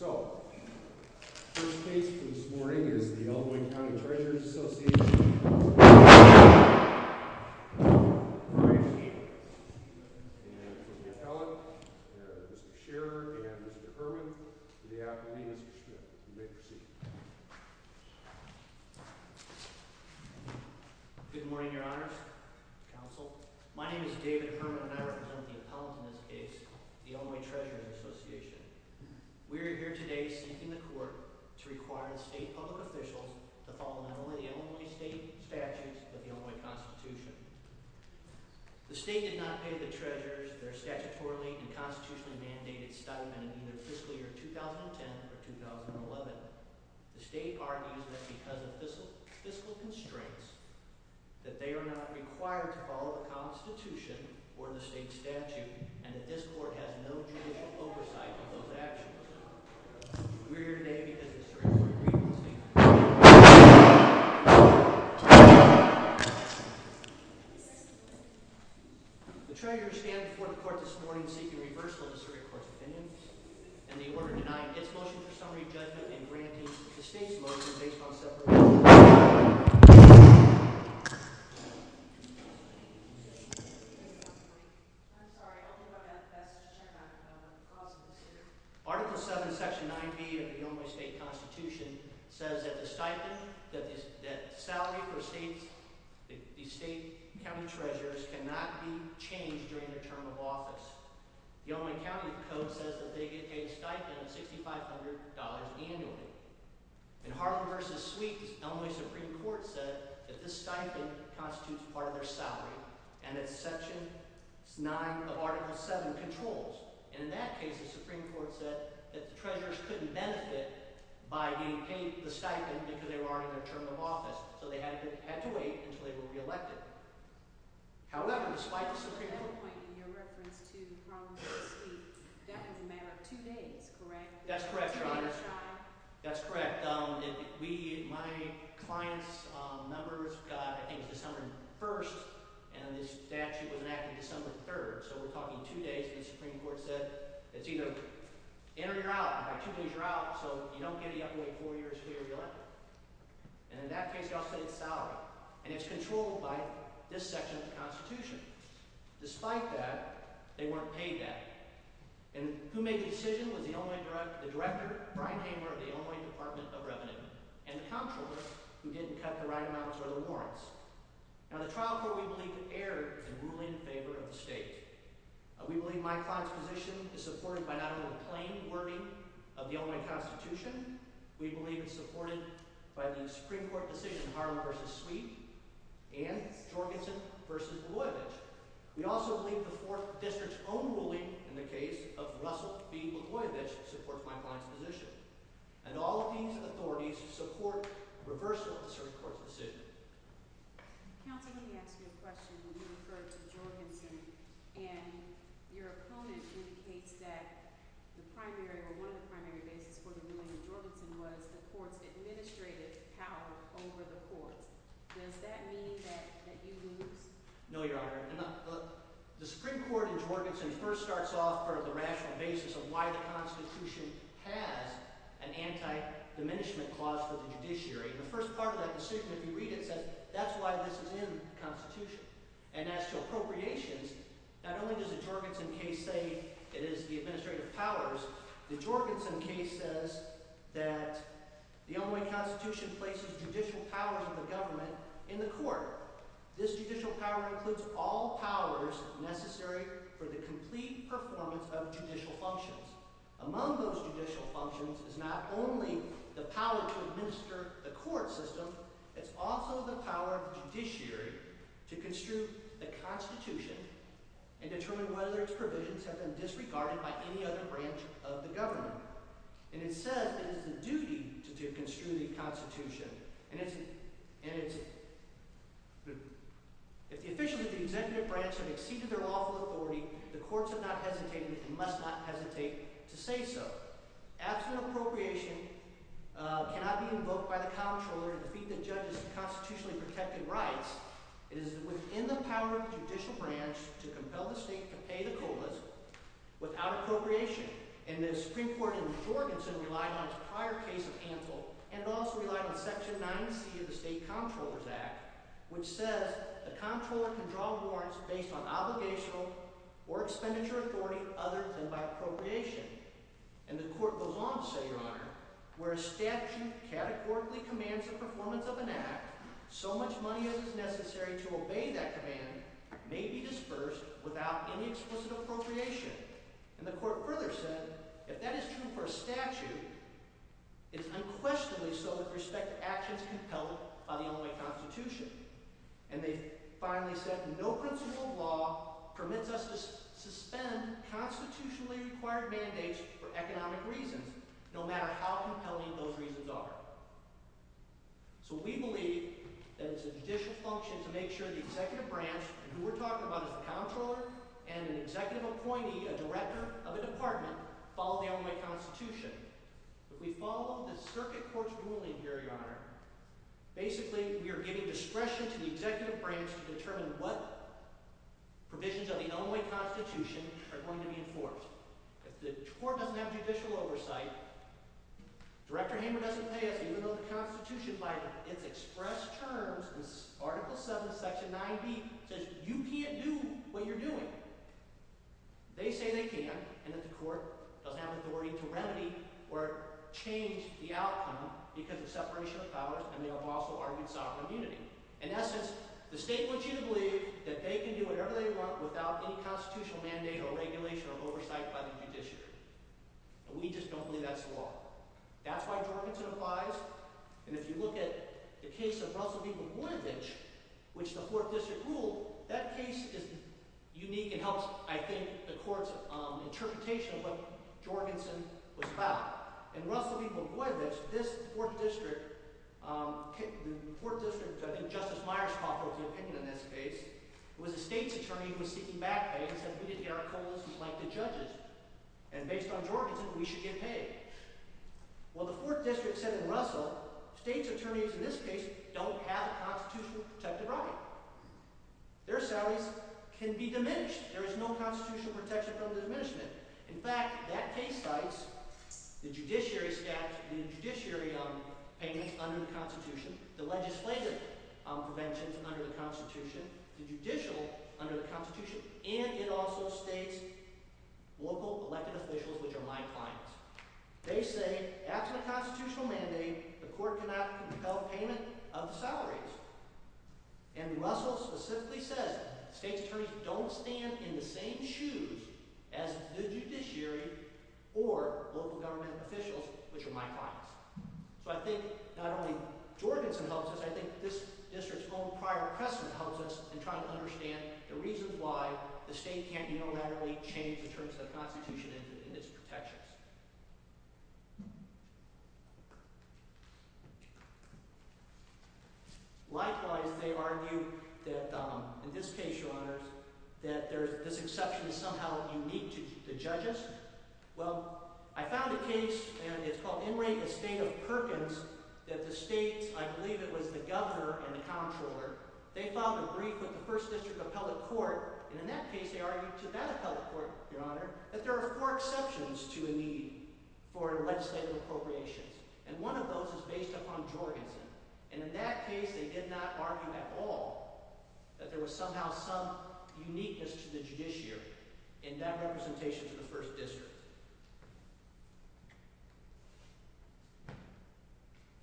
So, first case for this morning is the Elmwood County Treasurers' Association v. Hamer And for the appellate, Mr. Scherer and Mr. Herman, the appellant is Mr. Schmidt. You may proceed. Good morning, your honors, counsel. My name is David Herman and I represent the appellant in this case, the Elmwood Treasurer's Association. We are here today seeking the court to require the state public officials to follow not only the Elmwood state statutes, but the Elmwood Constitution. The state did not pay the treasurers their statutorily and constitutionally mandated stipend in either fiscal year 2010 or 2011. The state argues that because of fiscal constraints, that they are not required to follow the constitution or the state statute, and that this court has no judicial oversight of those actions. We are here today because of the Supreme Court's grievances. The treasurers stand before the court this morning seeking reversal of the Supreme Court's opinions, and the order denying its motion for summary judgment and granting distinct motions based on separate opinions. I'm sorry, I'll move on to that section. I don't know if that's possible, sir. Article 7, section 9B of the Elmwood state constitution says that the stipend, that the salary for the state county treasurers cannot be changed during their term of office. The Elmwood county code says that they get paid a stipend of $6,500 annually. In Harlan v. Sweet, the Elmwood Supreme Court said that this stipend constitutes part of their salary, and that section 9 of article 7 controls. And in that case, the Supreme Court said that the treasurers couldn't benefit by being paid the stipend because they were already on their term of office, so they had to wait until they were reelected. However, despite the Supreme Court… In your reference to Harlan v. Sweet, that would matter two days, correct? That's correct, Your Honor. That's correct. My client's numbers got, I think, December 1st, and the statute was enacted December 3rd, so we're talking two days. The Supreme Court said it's either in or you're out, and by two days you're out, so you don't get it, you have to wait four years until you're reelected. And in that case, y'all say it's salary, and it's controlled by this section of the Constitution. Despite that, they weren't paid that. And who made the decision was the director, Brian Hamer, of the Elmwood Department of Revenue, and the councilor, who didn't cut the right amounts or the warrants. Now the trial court, we believe, erred in ruling in favor of the state. We believe my client's position is supported by not only the plain wording of the Elmwood Constitution. We believe it's supported by the Supreme Court decision, Hamer v. Sweet, and Jorgensen v. Milojevic. We also believe the Fourth District's own ruling in the case of Russell v. Milojevic support my client's position. And all of these authorities support reversal of the Supreme Court decision. Counsel, let me ask you a question. You referred to Jorgensen, and your opponent indicates that the primary or one of the primary basis for the ruling in Jorgensen was the court's administrative power over the court. Does that mean that you lose? No, Your Honor. The Supreme Court in Jorgensen first starts off on the rational basis of why the Constitution has an anti-diminishment clause for the judiciary. The first part of that decision, if you read it, says that's why this is in the Constitution. And as to appropriations, not only does the Jorgensen case say it is the administrative powers. The Jorgensen case says that the Elmwood Constitution places judicial powers of the government in the court. This judicial power includes all powers necessary for the complete performance of judicial functions. Among those judicial functions is not only the power to administer the court system. It's also the power of the judiciary to construe the Constitution and determine whether its provisions have been disregarded by any other branch of the government. And it says it is the duty to construe the Constitution. And it's – if the officials of the executive branch have exceeded their lawful authority, the courts have not hesitated and must not hesitate to say so. As to an appropriation, it cannot be invoked by the comptroller to defeat the judge's constitutionally protected rights. It is within the power of the judicial branch to compel the state to pay the COLAs without appropriation. And the Supreme Court in Jorgensen relied on its prior case of Hansel and also relied on Section 90C of the State Comptroller's Act, which says the comptroller can draw warrants based on obligational or expenditure authority other than by appropriation. And the court goes on to say, Your Honor, where a statute categorically commands the performance of an act, so much money as is necessary to obey that command may be dispersed without any explicit appropriation. And the court further said if that is true for a statute, it's unquestionably so with respect to actions compelled by the Illinois Constitution. And they finally said no principle of law permits us to suspend constitutionally required mandates for economic reasons, no matter how compelling those reasons are. So we believe that it's a judicial function to make sure the executive branch, who we're talking about is the comptroller, and an executive appointee, a director of a department, follow the Illinois Constitution. If we follow the circuit court's ruling here, Your Honor, basically we are giving discretion to the executive branch to determine what provisions of the Illinois Constitution are going to be enforced. The court doesn't have judicial oversight. Director Hamer doesn't pay us, even though the Constitution, by its expressed terms, in Article 7, Section 9b, says you can't do what you're doing. They say they can, and that the court doesn't have authority to remedy or change the outcome because of separation of powers and they have also argued sovereign immunity. In essence, the state wants you to believe that they can do whatever they want without any constitutional mandate or regulation or oversight by the judiciary. We just don't believe that's the law. That's why Jorgensen applies. And if you look at the case of Russell B. Bogoyevich, which the 4th District ruled, that case is unique and helps, I think, the court's interpretation of what Jorgensen was about. In Russell B. Bogoyevich, this 4th District, the 4th District Justice Myers talked about the opinion in this case. It was a state's attorney who was seeking back pay and said, we didn't get our coal as we'd like the judges, and based on Jorgensen, we should get paid. Well, the 4th District said in Russell, state's attorneys in this case don't have a constitutionally protected right. Their salaries can be diminished. There is no constitutional protection from the diminishment. In fact, that case cites the judiciary payments under the Constitution, the legislative preventions under the Constitution, the judicial under the Constitution, and it also states local elected officials, which are my clients. They say after the constitutional mandate, the court cannot compel payment of the salaries. And Russell specifically says state's attorneys don't stand in the same shoes as the judiciary or local government officials, which are my clients. So I think not only Jorgensen helps us, I think this district's own prior precedent helps us in trying to understand the reasons why the state can't unilaterally change the terms of the Constitution and its protections. Likewise, they argue that in this case, Your Honors, that this exception is somehow unique to judges. Well, I found a case, and it's called In Re, the State of Perkins, that the states, I believe it was the governor and the comptroller, they filed a brief with the 1st District Appellate Court, and in that case they argued to that appellate court, Your Honor, that there are four exceptions to a need for legislative appropriations, and one of those is based upon Jorgensen. And in that case, they did not argue at all that there was somehow some uniqueness to the judiciary in that representation to the 1st District.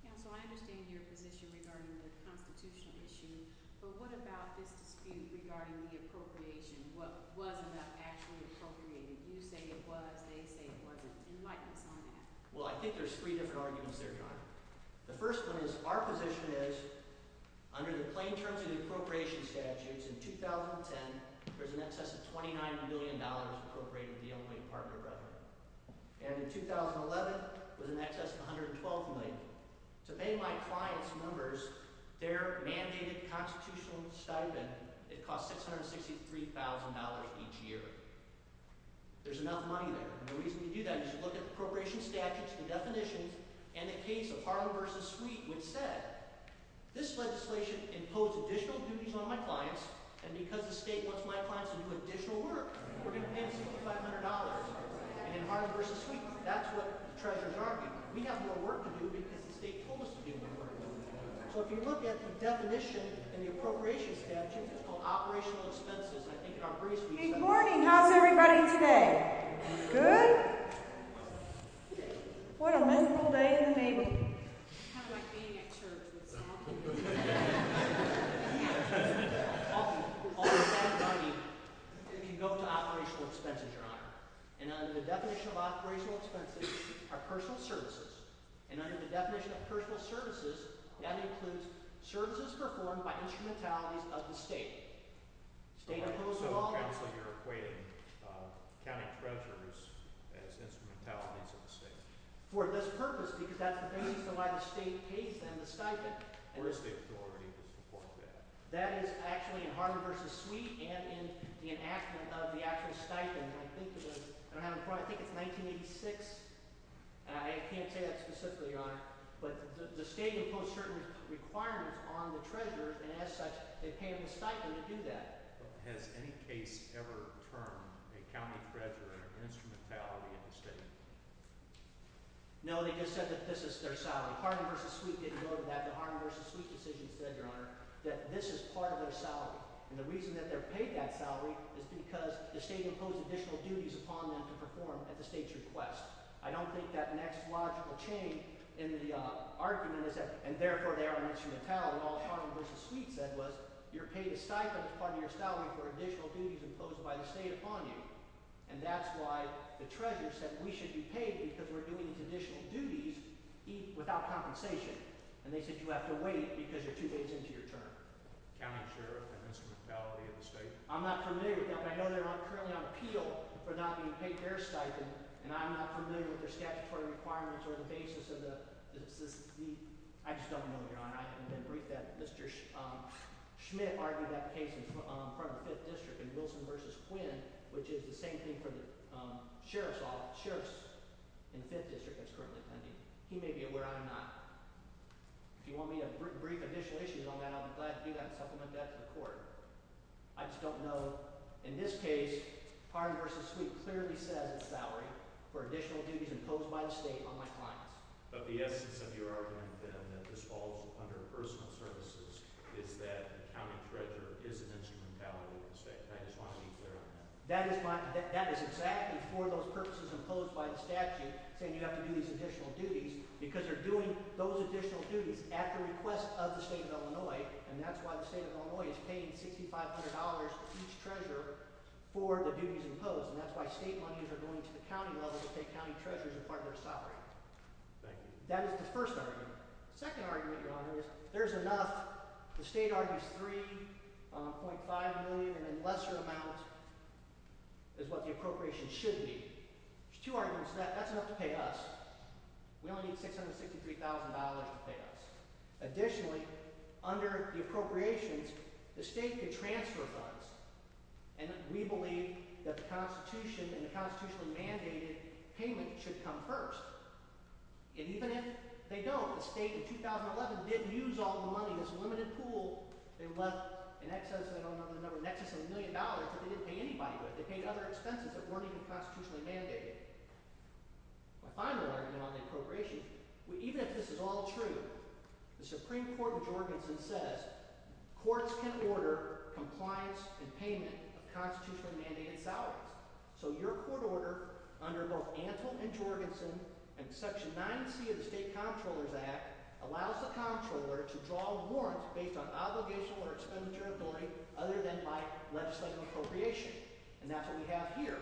Counsel, I understand your position regarding the constitutional issue, but what about this dispute regarding the appropriation? What wasn't actually appropriated? You say it was, they say it wasn't. You might put some on that. Well, I think there's three different arguments there, Your Honor. The first one is our position is, under the plain terms of the appropriation statutes in 2010, there's an excess of $29 million appropriated in the Illinois Department of Revenue. And in 2011, there's an excess of $112 million. To pay my clients' numbers, their mandated constitutional stipend, it costs $663,000 each year. There's enough money there, and the reason you do that is you look at the appropriation statutes, the definitions, and the case of Harlow v. Sweet, which said, this legislation imposed additional duties on my clients, and because the state wants my clients to do additional work, we're going to pay them $6,500. And in Harlow v. Sweet, that's what treasurers argue. We have more work to do because the state told us to do more work. So if you look at the definition in the appropriation statute of operational expenses, I think in our briefs we said— Good morning. How's everybody today? Good? What a wonderful day in the Navy. I kind of like being at church this afternoon. All of that money can go to operational expenses, Your Honor. And under the definition of operational expenses are personal services. And under the definition of personal services, that includes services performed by instrumentalities of the state. So you're equating county treasurers as instrumentalities of the state? For this purpose, because that's the basis of why the state pays them the stipend. Where is the authority to report that? That is actually in Harlow v. Sweet and in the enactment of the actual stipend. I think it was—I don't have it in front of me. I think it's 1986. I can't say that specifically, Your Honor. But the state imposed certain requirements on the treasurer, and as such, they pay them a stipend to do that. Has any case ever termed a county treasurer an instrumentality of the state? No, they just said that this is their salary. Harlow v. Sweet didn't go to that, but Harlow v. Sweet's decision said, Your Honor, that this is part of their salary. And the reason that they're paid that salary is because the state imposed additional duties upon them to perform at the state's request. I don't think that next logical change in the argument is that—and therefore they are an instrumentality. What Harlow v. Sweet said was you're paid a stipend as part of your salary for additional duties imposed by the state upon you. And that's why the treasurer said we should be paid because we're doing additional duties without compensation. And they said you have to wait because you're two days into your term. County treasurer, an instrumentality of the state? I'm not familiar with that, but I know they're currently on appeal for not being paid their stipend, and I'm not familiar with their statutory requirements or the basis of the— I just don't know, Your Honor. I haven't been briefed on that. Mr. Schmidt argued that case in front of the 5th District in Wilson v. Quinn, which is the same thing for the sheriffs in the 5th District that's currently pending. He may be aware. I am not. If you want me to brief additional issues on that, I'll be glad to do that and supplement that to the court. I just don't know. In this case, Harlow v. Sweet clearly says it's salary for additional duties imposed by the state on my clients. But the essence of your argument, then, that this falls under personal services, is that the county treasurer is an instrumentality of the state. I just want to be clear on that. That is exactly for those purposes imposed by the statute, saying you have to do these additional duties, because they're doing those additional duties at the request of the state of Illinois, and that's why the state of Illinois is paying $6,500 for each treasurer for the duties imposed. And that's why state monies are going to the county level to take county treasurers as part of their salary. That is the first argument. The second argument, Your Honor, is there's enough. The state argues $3.5 million, and a lesser amount is what the appropriations should be. There's two arguments to that. That's enough to pay us. We only need $663,000 to pay us. Additionally, under the appropriations, the state can transfer funds. And we believe that the Constitution and the constitutionally mandated payment should come first. And even if they don't, the state in 2011 did use all the money in this limited pool. They left in excess of, I don't remember the number, in excess of $1 million, but they didn't pay anybody with it. They paid other expenses that weren't even constitutionally mandated. My final argument on the appropriations, even if this is all true, the Supreme Court of Jorgensen says courts can order compliance and payment of constitutionally mandated salaries. So your court order under both Antle and Jorgensen and Section 9C of the State Comptroller's Act allows the comptroller to draw warrants based on obligational or expeditory authority other than by legislative appropriation. And that's what we have here.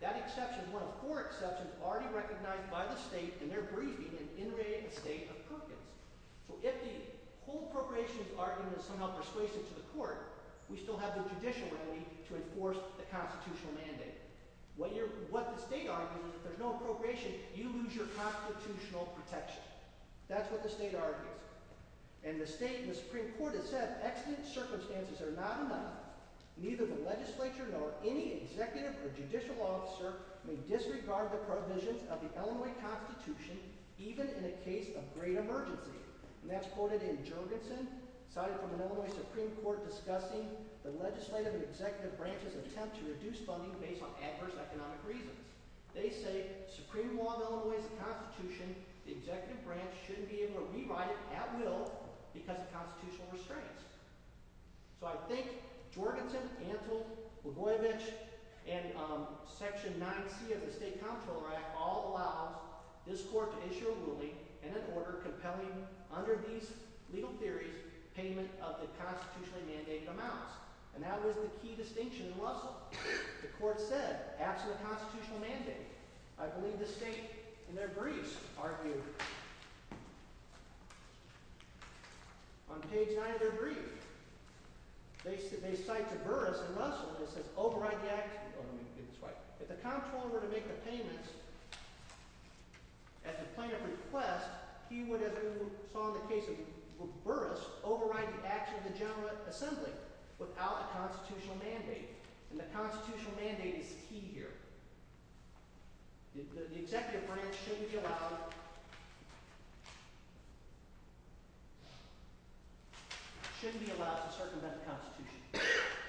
That exception is one of four exceptions already recognized by the state, and they're breathing and integrating the state of Perkins. So if the whole appropriations argument is somehow persuasive to the court, we still have the judicial remedy to enforce the constitutional mandate. What the state argues is if there's no appropriation, you lose your constitutional protection. That's what the state argues. And the state and the Supreme Court has said, if the exigent circumstances are not enough, neither the legislature nor any executive or judicial officer may disregard the provisions of the Illinois Constitution, even in a case of great emergency. And that's quoted in Jorgensen, cited from the Illinois Supreme Court, discussing the legislative and executive branches' attempt to reduce funding based on adverse economic reasons. They say, Supreme Law of Illinois is a constitution. The executive branch shouldn't be able to rewrite it at will because of constitutional restraints. So I think Jorgensen, Antle, Levoivich, and Section 9C of the State Comptroller Act all allow this court to issue a ruling and an order compelling, under these legal theories, payment of the constitutionally mandated amounts. And that was the key distinction in Russell. The court said, after the constitutional mandate, I believe the state, in their briefs, argued on page 9 of their brief, they cite to Burris and Russell, it says, if the comptroller were to make a payment at the point of request, he would, as we saw in the case of Burris, override the action of the General Assembly without a constitutional mandate. And the constitutional mandate is key here. The executive branch shouldn't be allowed to circumvent the constitution.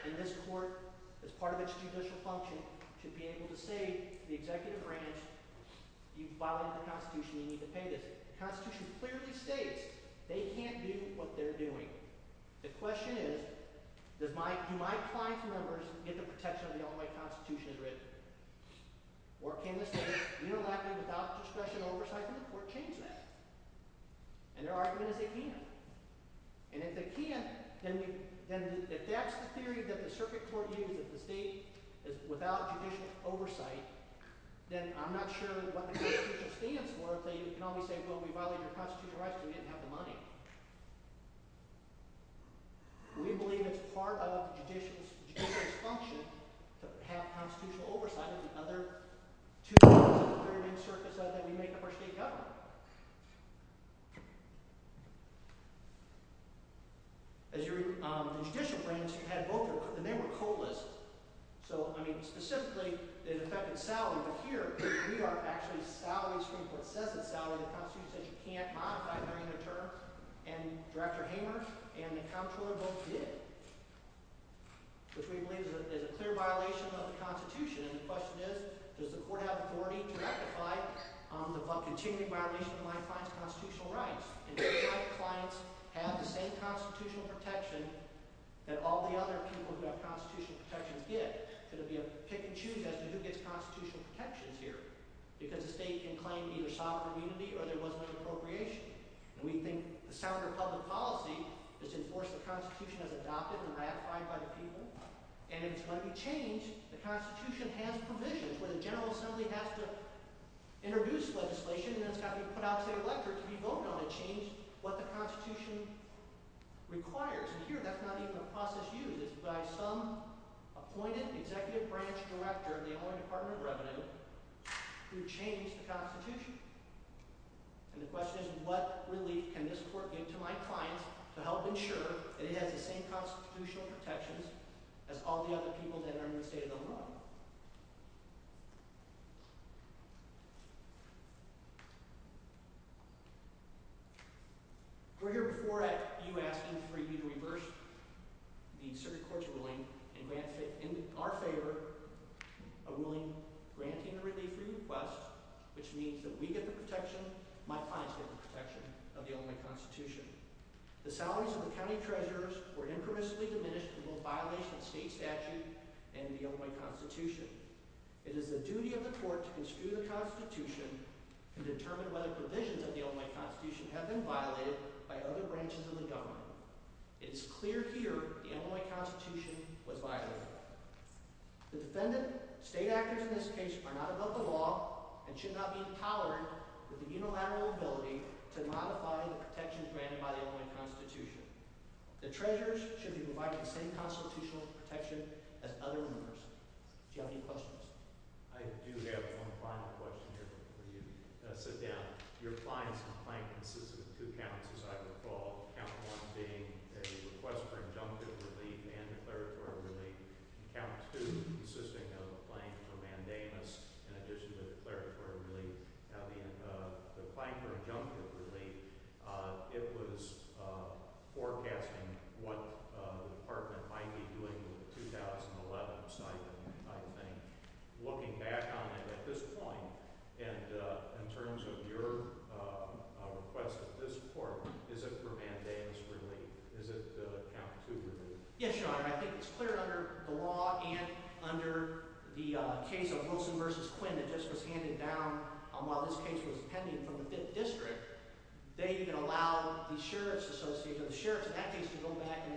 And this court, as part of its judicial function, should be able to say, the executive branch, you've violated the constitution, you need to pay this. The constitution clearly states they can't do what they're doing. The question is, do my client's members get the protection of the all-white constitution or can the state, without discretion or oversight of the court, change that? And their argument is they can't. And if they can't, then if that's the theory that the circuit court used, that the state is without judicial oversight, then I'm not sure what the constitution stands for if they can only say, well, we violated your constitutional rights, we didn't have the money. We believe it's part of the judicial's function to have constitutional oversight of the other two things that we make of our state government. As your judicial branch, you had both of them, and they were coalesced. So, I mean, specifically, it affected salary, but here we are actually salaried, the constitution says you can't modify it during your term, and Director Hamer and the comptroller both did. Which we believe is a clear violation of the constitution, and the question is, does the court have authority to rectify the continuing violation of my client's constitutional rights? And do my clients have the same constitutional protection that all the other people who have constitutional protections get? Because if you pick and choose as to who gets constitutional protections here, because the state can claim either sovereign unity or there was no appropriation. And we think the sounder public policy is to enforce the constitution as adopted and ratified by the people, and if it's going to be changed, the constitution has provisions, where the General Assembly has to introduce legislation, and it's got to be put out to the electorate to be voted on to change what the constitution requires. And here, that's not even a process used. It's by some appointed executive branch director of the Employment Department of Revenue who changed the constitution. And the question is, what relief can this court give to my clients to help ensure that it has the same constitutional protections as all the other people that are in the state of Illinois? We're here before you asking for you to reverse the circuit court's ruling and grant it in our favor a ruling granting the relief request, which means that we get the protection, my clients get the protection of the Illinois Constitution. The salaries of the county treasurers were impermissibly diminished in both violation of state statute and the Illinois Constitution. It is the duty of the court to construe the constitution and determine whether provisions of the Illinois Constitution have been violated by other branches of the government. It is clear here the Illinois Constitution was violated. The defendant, state actors in this case, are not above the law and should not be empowered with the unilateral ability to modify the protections granted by the Illinois Constitution. The treasurers should be provided the same constitutional protection as other members. Do you have any questions? I do have one final question here before you sit down. Your client's complaint consisted of two counts, as I recall. Count one being a request for injunctive relief and declaratory relief. Count two consisting of a claim for mandamus in addition to declaratory relief. The claim for injunctive relief, it was forecasting what the department might be doing with the 2011 stipend, I think. Looking back on it at this point, and in terms of your request at this point, is it for mandamus relief? Is it count two relief? Yes, Your Honor. I think it's clear under the law and under the case of Wilson v. Quinn that just was handed down while this case was pending from the 5th District, they even allowed the sheriff's association, the sheriffs in that case, to go back and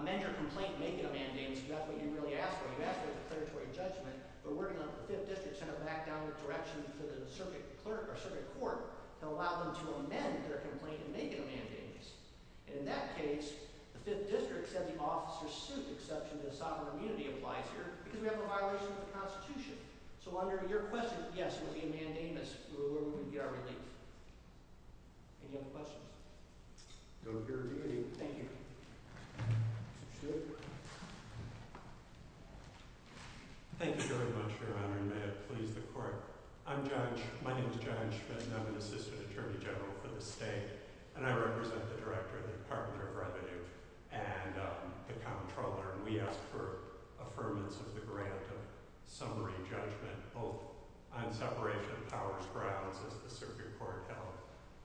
amend your complaint and make it a mandamus. That's what you really asked for. You asked for a declaratory judgment. The 5th District sent it back down the direction to the circuit court to allow them to amend their complaint and make it a mandamus. In that case, the 5th District said the officer's suit, exception to the sovereign immunity applies here, because we have a violation of the Constitution. So under your question, yes, it would be a mandamus. We would get our relief. Any other questions? No, Your Honor. Thank you. Thank you very much, Your Honor, and may it please the court. I'm Judge, my name is Judge, and I'm an assistant attorney general for the state. And I represent the director of the Department of Revenue and the comptroller, and we ask for affirmance of the grant of summary judgment on separation of powers grounds as the circuit court held,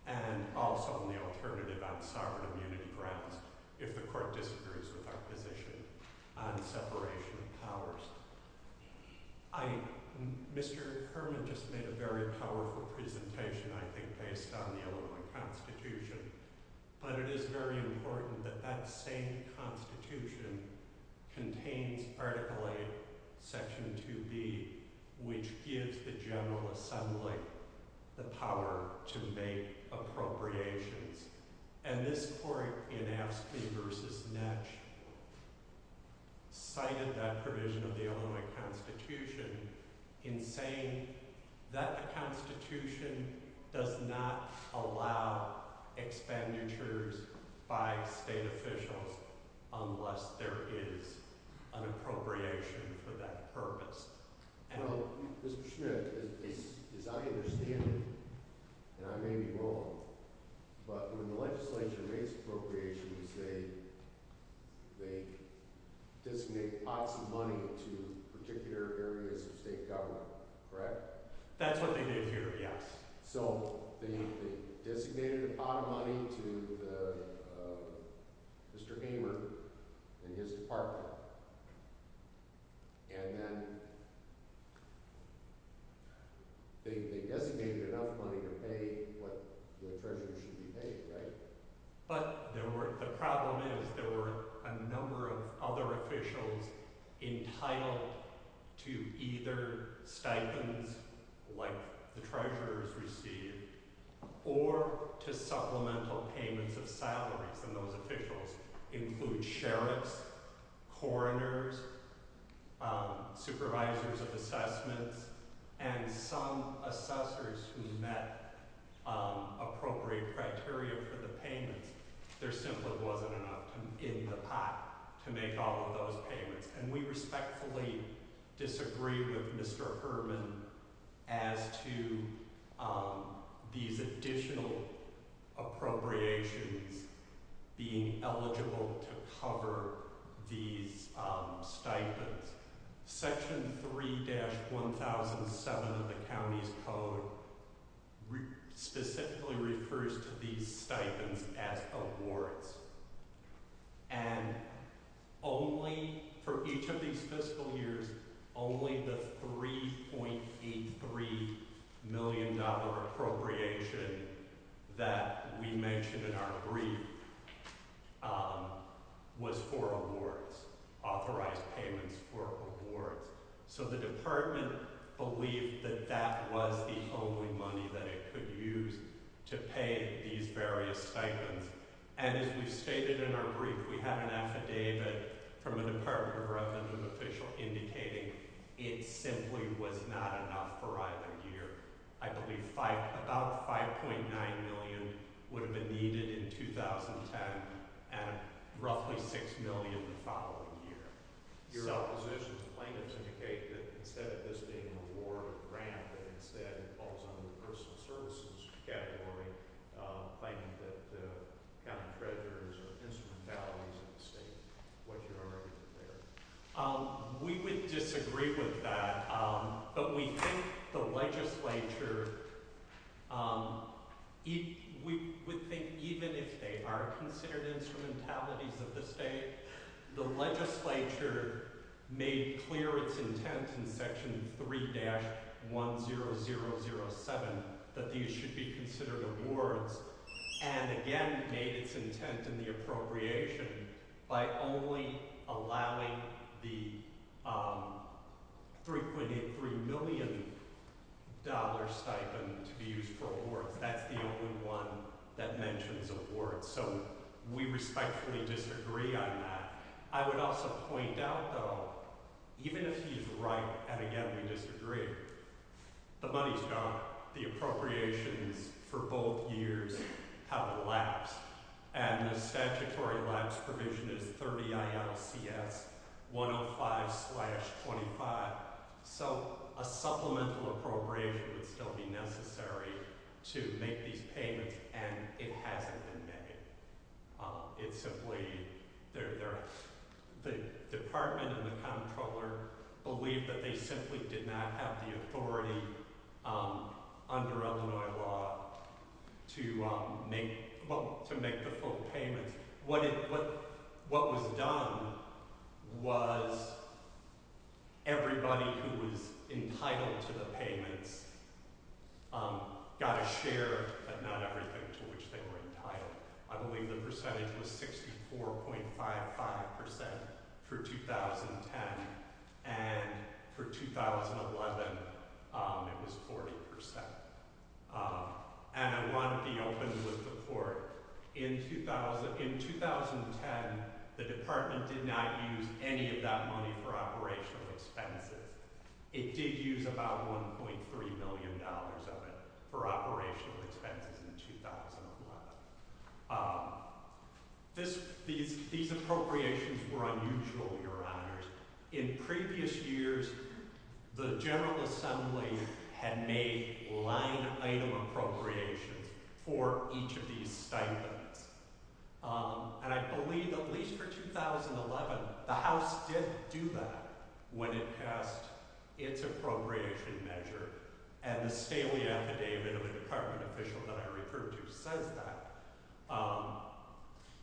and also on the alternative on sovereign immunity grounds if the court disagrees with our position on separation of powers. Mr. Kerman just made a very powerful presentation, I think, based on the Illinois Constitution, but it is very important that that same Constitution contains Article 8, Section 2B, which gives the General Assembly the power to make appropriations. And this court in Astley v. Netsch cited that provision of the Illinois Constitution in saying that the Constitution does not allow expenditures by state officials unless there is an appropriation for that purpose. Now, Mr. Schmidt, as I understand it, and I may be wrong, but when the legislature makes appropriations, they designate lots of money to particular areas of state government, correct? That's what they did here, yes. So they designated a pot of money to Mr. Hamer and his department, and then they designated enough money to pay what the attorney should be paid, right? But the problem is there were a number of other officials entitled to either stipends, like the Treasurer's received, or to supplemental payments of salaries, and those officials include sheriffs, coroners, supervisors of assessments, and some assessors who met appropriate criteria for the payments. There simply wasn't enough in the pot to make all of those payments. And we respectfully disagree with Mr. Herman as to these additional appropriations being eligible to cover these stipends. Section 3-1007 of the county's code specifically refers to these stipends as awards, and only for each of these fiscal years, only the $3.83 million appropriation that we mentioned in our brief was for awards, authorized payments for awards. So the department believed that that was the only money that it could use to pay these various stipends. And as we stated in our brief, we have an affidavit from a Department of Revenue official indicating it simply was not enough for either year. I believe about $5.9 million would have been needed in 2010, and roughly $6 million the following year. Your opposition to plaintiffs indicates that instead of this being an award or grant, that instead it falls under the personal services category, claiming that the county treasurer's or instrumentalities of the state, which are already there. We would disagree with that, but we think the legislature, we think even if they are considered instrumentalities of the state, the legislature made clear its intent in Section 3-1007 that these should be considered awards, and again made its intent in the appropriation by only allowing the $3.8 million stipend to be used for awards. That's the only one that mentions awards. So we respectfully disagree on that. I would also point out, though, even if he's right, and again we disagree, the money's gone, the appropriations for both years have elapsed, and the statutory lapse provision is 30 ILCS 105-25. So a supplemental appropriation would still be necessary to make these payments, and it hasn't been made. It's simply the department and the comptroller believe that they simply did not have the authority under Illinois law to make the full payments. What was done was everybody who was entitled to the payments got a share, but not everything to which they were entitled. I believe the percentage was 64.55% for 2010, and for 2011 it was 40%. And I want to be open with the court. In 2010, the department did not use any of that money for operational expenses. It did use about $1.3 million of it for operational expenses in 2011. These appropriations were unusual, Your Honors. In previous years, the General Assembly had made line-item appropriations for each of these stipends. And I believe, at least for 2011, the House did do that when it passed its appropriation measure, and the Staley affidavit of the department official that I referred to says that.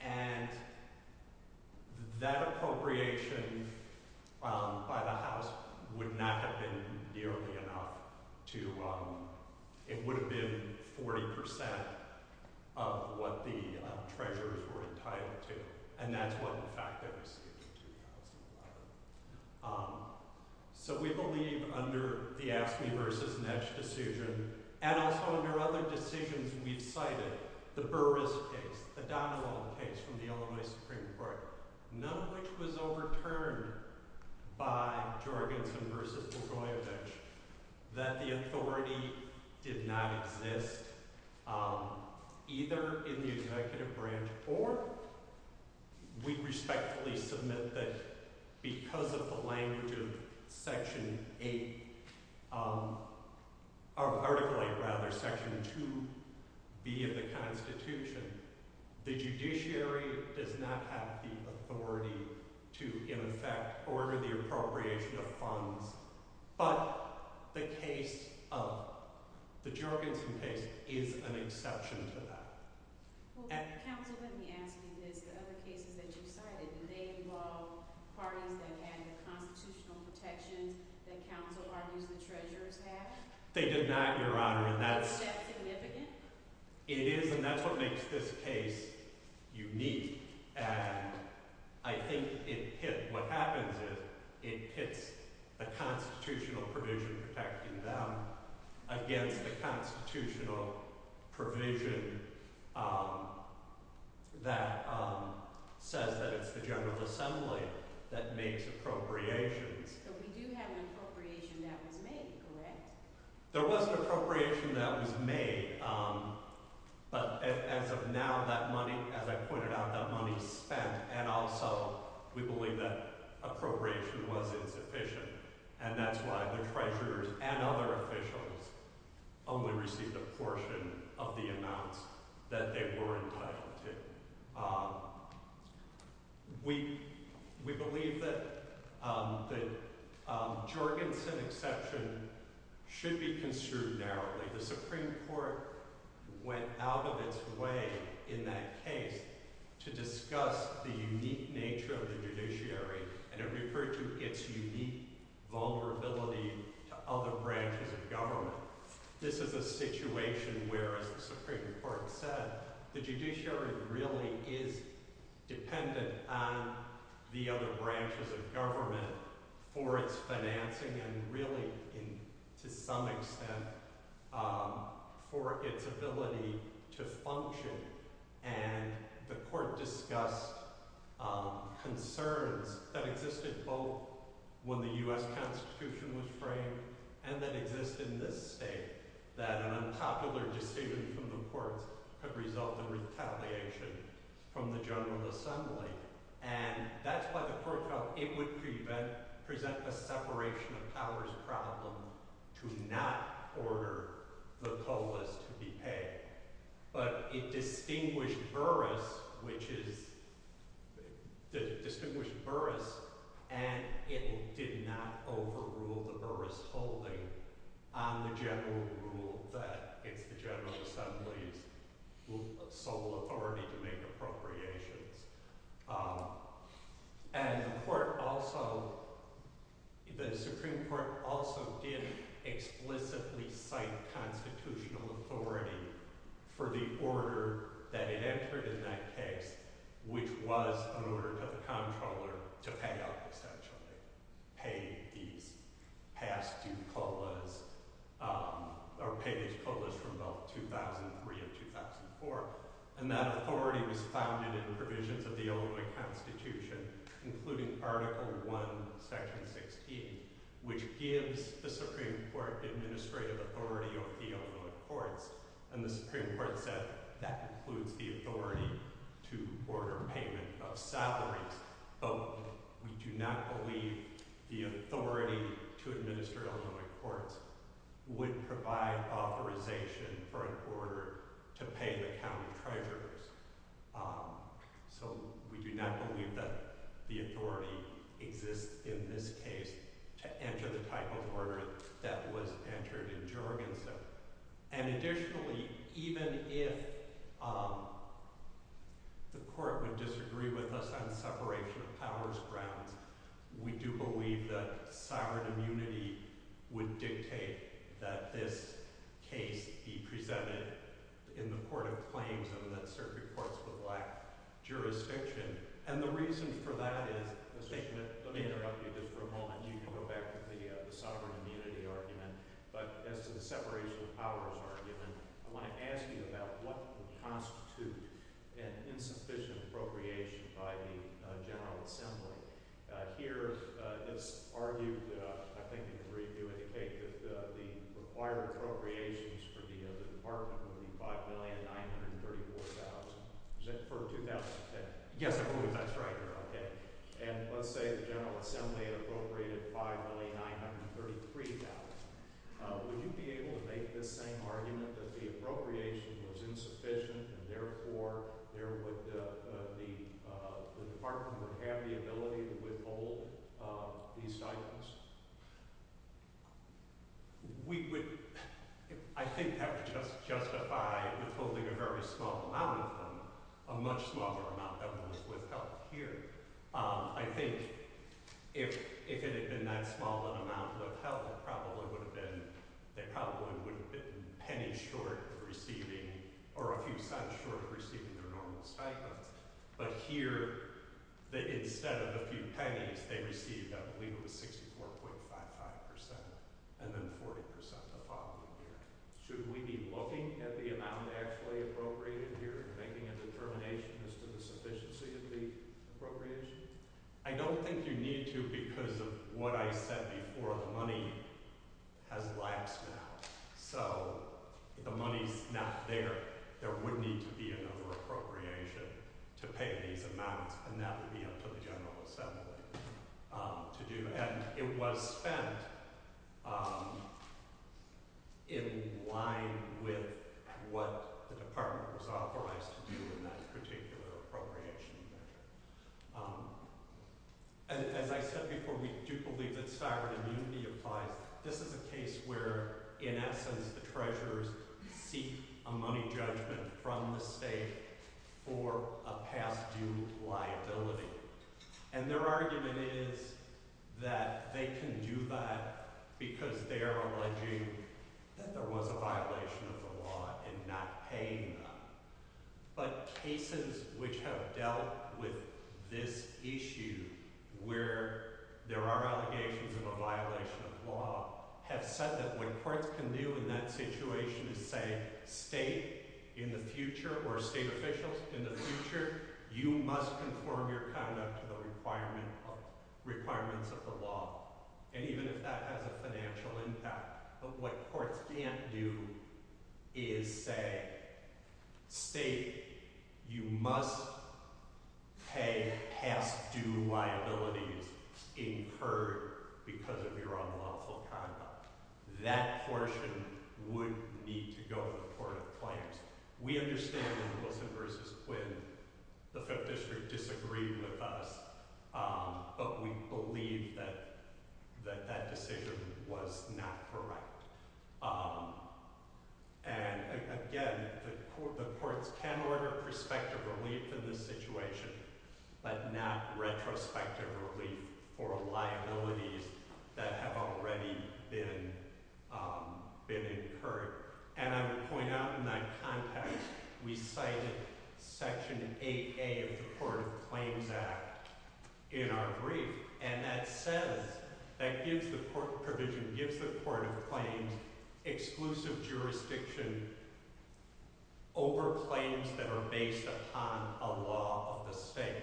And that appropriation by the House would not have been nearly enough. It would have been 40% of what the treasurers were entitled to, and that's what, in fact, they received in 2011. So we believe, under the Ask Me Versus Nets decision, and also under other decisions we've cited, the Burris case, the Donilon case from the Illinois Supreme Court, none of which was overturned by Jorgensen versus Bogoyevich, that the authority did not exist either in the executive branch or we respectfully submit that because of the language of Section 8, or particularly, rather, Section 2B of the Constitution. The judiciary does not have the authority to, in effect, order the appropriation of funds, but the case of the Jorgensen case is an exception to that. Counsel, let me ask you this. The other cases that you've cited, did they involve parties that had the constitutional protection that counsel argues the treasurers had? They did not, Your Honor. Is that significant? It is, and that's what makes this case unique, and I think it hit what happens if it hits the constitutional provision protecting them against the constitutional provision that says that it's the General Assembly that makes appropriations. So we do have an appropriation that was made, correct? There was an appropriation that was made, but as of now, that money, as I pointed out, that money is spent, and also we believe that appropriation was insufficient, and that's why the treasurers and other officials only received a portion of the amounts that they were entitled to. We believe that the Jorgensen exception should be construed narrowly. The Supreme Court went out of its way in that case to discuss the unique nature of the judiciary, and it referred to its unique vulnerability to other branches of government. This is a situation where, as the Supreme Court said, the judiciary really is dependent on the other branches of government for its financing and really, to some extent, for its ability to function, and the court discussed concerns that existed both when the U.S. Constitution was framed and that exist in this state, that an unpopular decision from the courts could result in retaliation from the General Assembly, and that's why the court felt it would present a separation of powers problem to not order the COLAs to be paid, but it distinguished Burris, and it did not overrule the Burris holding on the general rule that it's the General Assembly's sole authority to make appropriations. And the Supreme Court also did explicitly cite constitutional authority for the order that it entered in that case, which was an order to the Comptroller to pay off, essentially, pay these past due COLAs, or pay these COLAs from about 2003 or 2004, and that authority was founded in the provisions of the Illinois Constitution, including Article I, Section 16, which gives the Supreme Court administrative authority over the Illinois courts, and the Supreme Court said that includes the authority to order payment of salaries, but we do not believe the authority to administer Illinois courts would provide authorization for an order to pay the county treasurers. So we do not believe that the authority exists in this case to enter the type of order that was entered in Jorgensen. And additionally, even if the court would disagree with us on separation of powers grounds, we do believe that sovereign immunity would dictate that this case be presented in the court of claims and that certain courts would lack jurisdiction, and the reason for that is the statement, let me interrupt you just for a moment, you can go back to the sovereign immunity argument, but as to the separation of powers argument, I want to ask you about what constitutes an insufficient appropriation by the General Assembly. Here it's argued, I think you can read through it, that the required appropriations for the department would be $5,934,000, is that for 2010? Yes, that's right. And let's say the General Assembly appropriated $5,933,000. Would you be able to make this same argument that the appropriation was insufficient and therefore the department would have the ability to withhold these items? We would, I think, have to justify withholding a very small amount of them, a much smaller amount of them would help here. I think if it had been that small an amount would have helped, they probably wouldn't have been pennies short of receiving, or a few cents short of receiving their normal stipends, but here, instead of a few pennies, they received, I believe it was 64.55%, and then 40% the following year. Should we be looking at the amount actually appropriated here and making a determination as to the sufficiency of the appropriation? I don't think you need to because of what I said before, money has lapsed now. So if the money's not there, there would need to be another appropriation to pay these amounts, and that would be up to the General Assembly to do. It was spent in line with what the department was authorized to do in that particular appropriation measure. As I said before, we do believe that sovereign immunity applies. This is a case where, in essence, the treasurers seek a money judgment from the state for a past-due liability. And their argument is that they can do that because they are alleging that there was a violation of the law in not paying them. But cases which have dealt with this issue, where there are allegations of a violation of law, have said that what courts can do in that situation is say, state in the future, or state officials in the future, you must conform your conduct to the requirements of the law. And even if that has a financial impact, what courts can't do is say, state, you must pay past-due liabilities incurred because of your unlawful conduct. That portion would need to go to the Court of Claims. We understand that in Wilson v. Quinn, the Fifth District disagreed with us, but we believe that that decision was not correct. And again, the courts can order prospective relief in this situation, but not retrospective relief for liabilities that have already been incurred. And I would point out in that context, we cited Section 8A of the Court of Claims Act in our brief. And that says, that gives the Court of Claims exclusive jurisdiction over claims that are based upon a law of the state,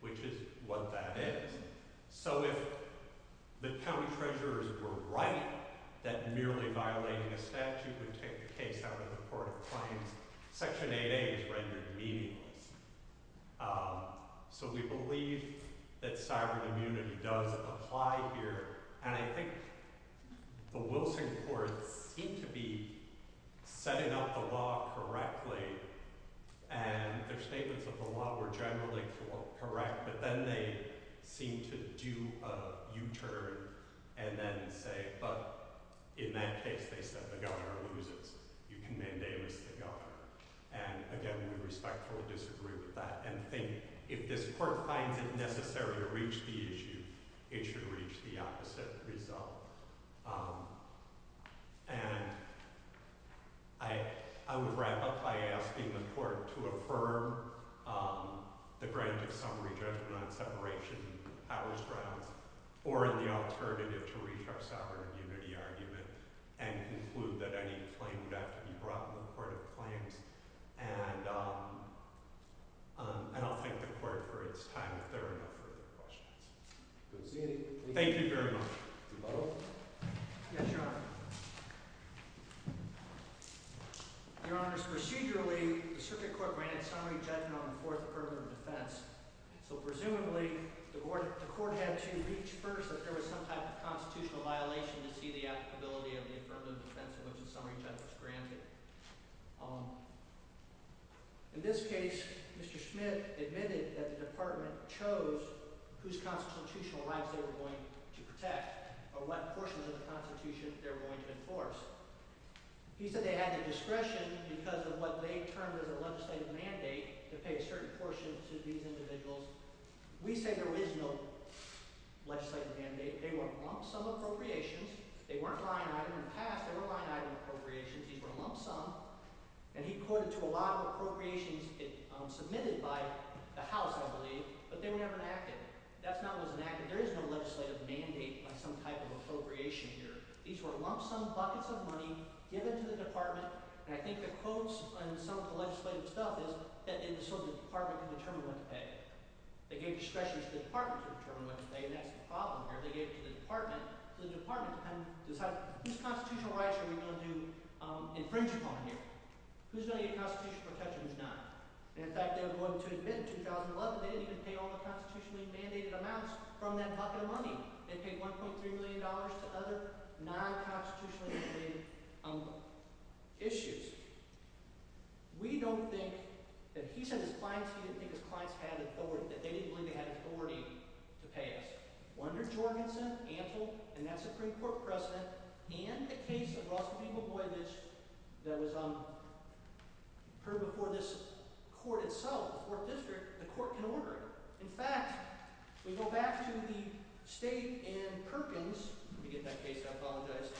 which is what that is. So if the county treasurers were right that merely violating a statute would take the case out of the Court of Claims, Section 8A is rendered meaningless. So we believe that cyber immunity does apply here. And I think the Wilson courts seem to be setting up a law correctly, and their statements of the law were generally correct, but then they seem to do a U-turn and then say, but in that case, they said the governor loses. You can mandamus the governor. And again, we respectfully disagree with that, and think if this court finds it necessary to reach the issue, it should reach the opposite result. And I would wrap up by asking the court to affirm the granted summary judgment on separation of powers grounds, or the alternative to reach our sovereign immunity argument, and conclude that any claim would have to be brought to the Court of Claims. And I'll thank the court for its time, if there are no further questions. Thank you very much. Yes, Your Honor. Your Honors, procedurally, the circuit court granted summary judgment on the Fourth Affirmative Defense. So presumably, the court had to reach first that there was some type of constitutional violation to see the applicability of the affirmative defense in which the summary judgment was granted. In this case, Mr. Smith admitted that the department chose whose constitutional rights they were going to protect, or what portions of the Constitution they were going to enforce. He said they had the discretion, because of what they termed as a legislative mandate, to pay a certain portion to these individuals. We say there is no legislative mandate. They were among some appropriations. They weren't line-item in the past. They were line-item appropriations. These were lump-sum. And he quoted to a lot of appropriations submitted by the House, I believe, but they were never enacted. That's not what was enacted. There is no legislative mandate by some type of appropriation here. These were lump-sum buckets of money given to the department. And I think the quotes on some of the legislative stuff is that it was so the department could determine what to pay. They gave discretion to the department to determine what to pay, and that's the problem here. The department can decide whose constitutional rights are we going to do infringement on here, who's going to get constitutional protection, who's not. In fact, they were going to admit in 2011 they didn't even pay all the constitutionally mandated amounts from that bucket of money. They paid $1.3 million to other non-constitutionally mandated issues. We don't think that he said his clients, he didn't think his clients had authority, that they didn't believe they had authority to pay us. Wunder Jorgensen, ample, and that's a pre-court precedent, and a case of Roscoe Peoples Boylage that was heard before this court itself, the court district, the court can order it. In fact, we go back to the state and Perkins. Let me get that case, I apologize.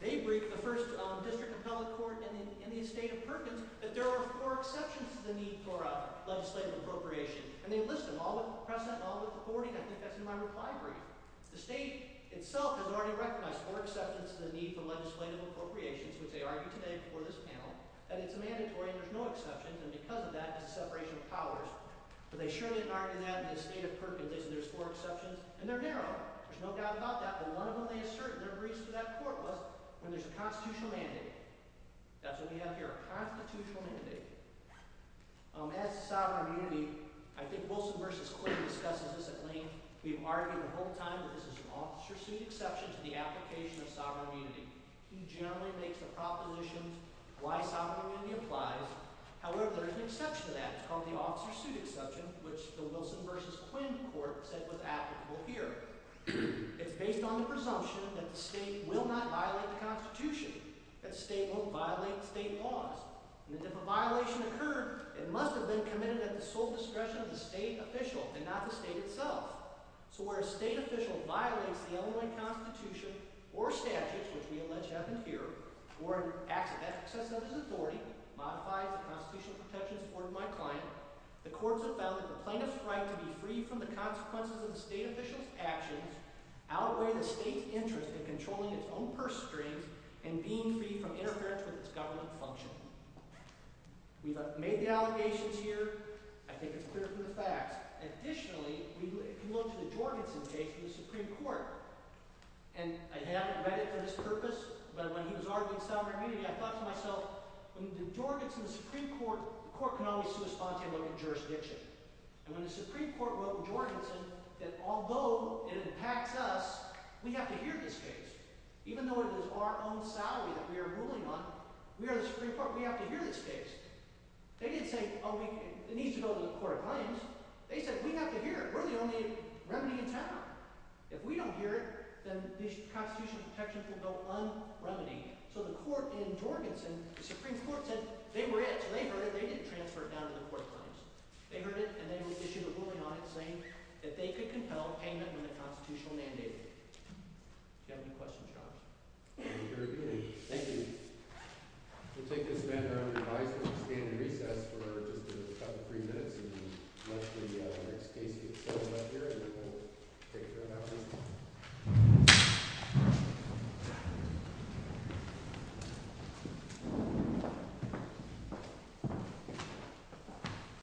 They briefed the first district appellate court in the state of Perkins that there are four exceptions to the need for legislative appropriation, and they list them, all with precedent and all with authority. I think that's in my reply brief. The state itself has already recognized four exceptions to the need for legislative appropriations, which they argued today before this panel, that it's a mandatory and there's no exceptions, and because of that, it's a separation of powers. But they surely have argued in that in the state of Perkins that there's four exceptions, and they're narrow. There's no doubt about that, but one of them they assert in their briefs to that court was when there's a constitutional mandate. That's what we have here, a constitutional mandate. As to sovereign immunity, I think Wilson v. Quinn discusses this at length. We've argued the whole time that this is an officer-suit exception to the application of sovereign immunity. He generally makes the propositions why sovereign immunity applies. However, there is an exception to that. It's called the officer-suit exception, which the Wilson v. Quinn court said was applicable here. It's based on the presumption that the state will not violate the Constitution, that the state won't violate the state laws, and that if a violation occurred, it must have been committed at the sole discretion of the state official and not the state itself. So where a state official violates the Illinois Constitution or statutes, which we allege have them here, or acts of excess of his authority, modifies the constitutional protections afforded by a client, the courts have found that the plaintiff's right to be free from the consequences of the state official's actions outweigh the state's interest in controlling its own purse strings and being free from interference with its government function. We've made the allegations here. I think it's clear from the facts. Additionally, if you look to the Jorgensen case in the Supreme Court, and I haven't read it for this purpose, but when he was arguing sovereign immunity, I thought to myself, when you did Jorgensen in the Supreme Court, the court can only see a spontaneous look at jurisdiction. And when the Supreme Court wrote Jorgensen that although it impacts us, we have to hear this case, even though it is our own salary that we are ruling on, we are the Supreme Court. We have to hear this case. They didn't say, oh, it needs to go to the court of claims. They said, we have to hear it. We're the only remedy in town. If we don't hear it, then these constitutional protections will go un-remedied. So the court in Jorgensen, the Supreme Court said they were it, so they heard it. They didn't transfer it down to the court of claims. They heard it, and they issued a ruling on it saying that they could compel payment when the Constitutional mandated it. Do you have any questions, John? Thank you very much. Thank you. We'll take this matter under revisal and stand in recess for just a couple, three minutes, and let the next case get settled up here, and then we'll take care of that one.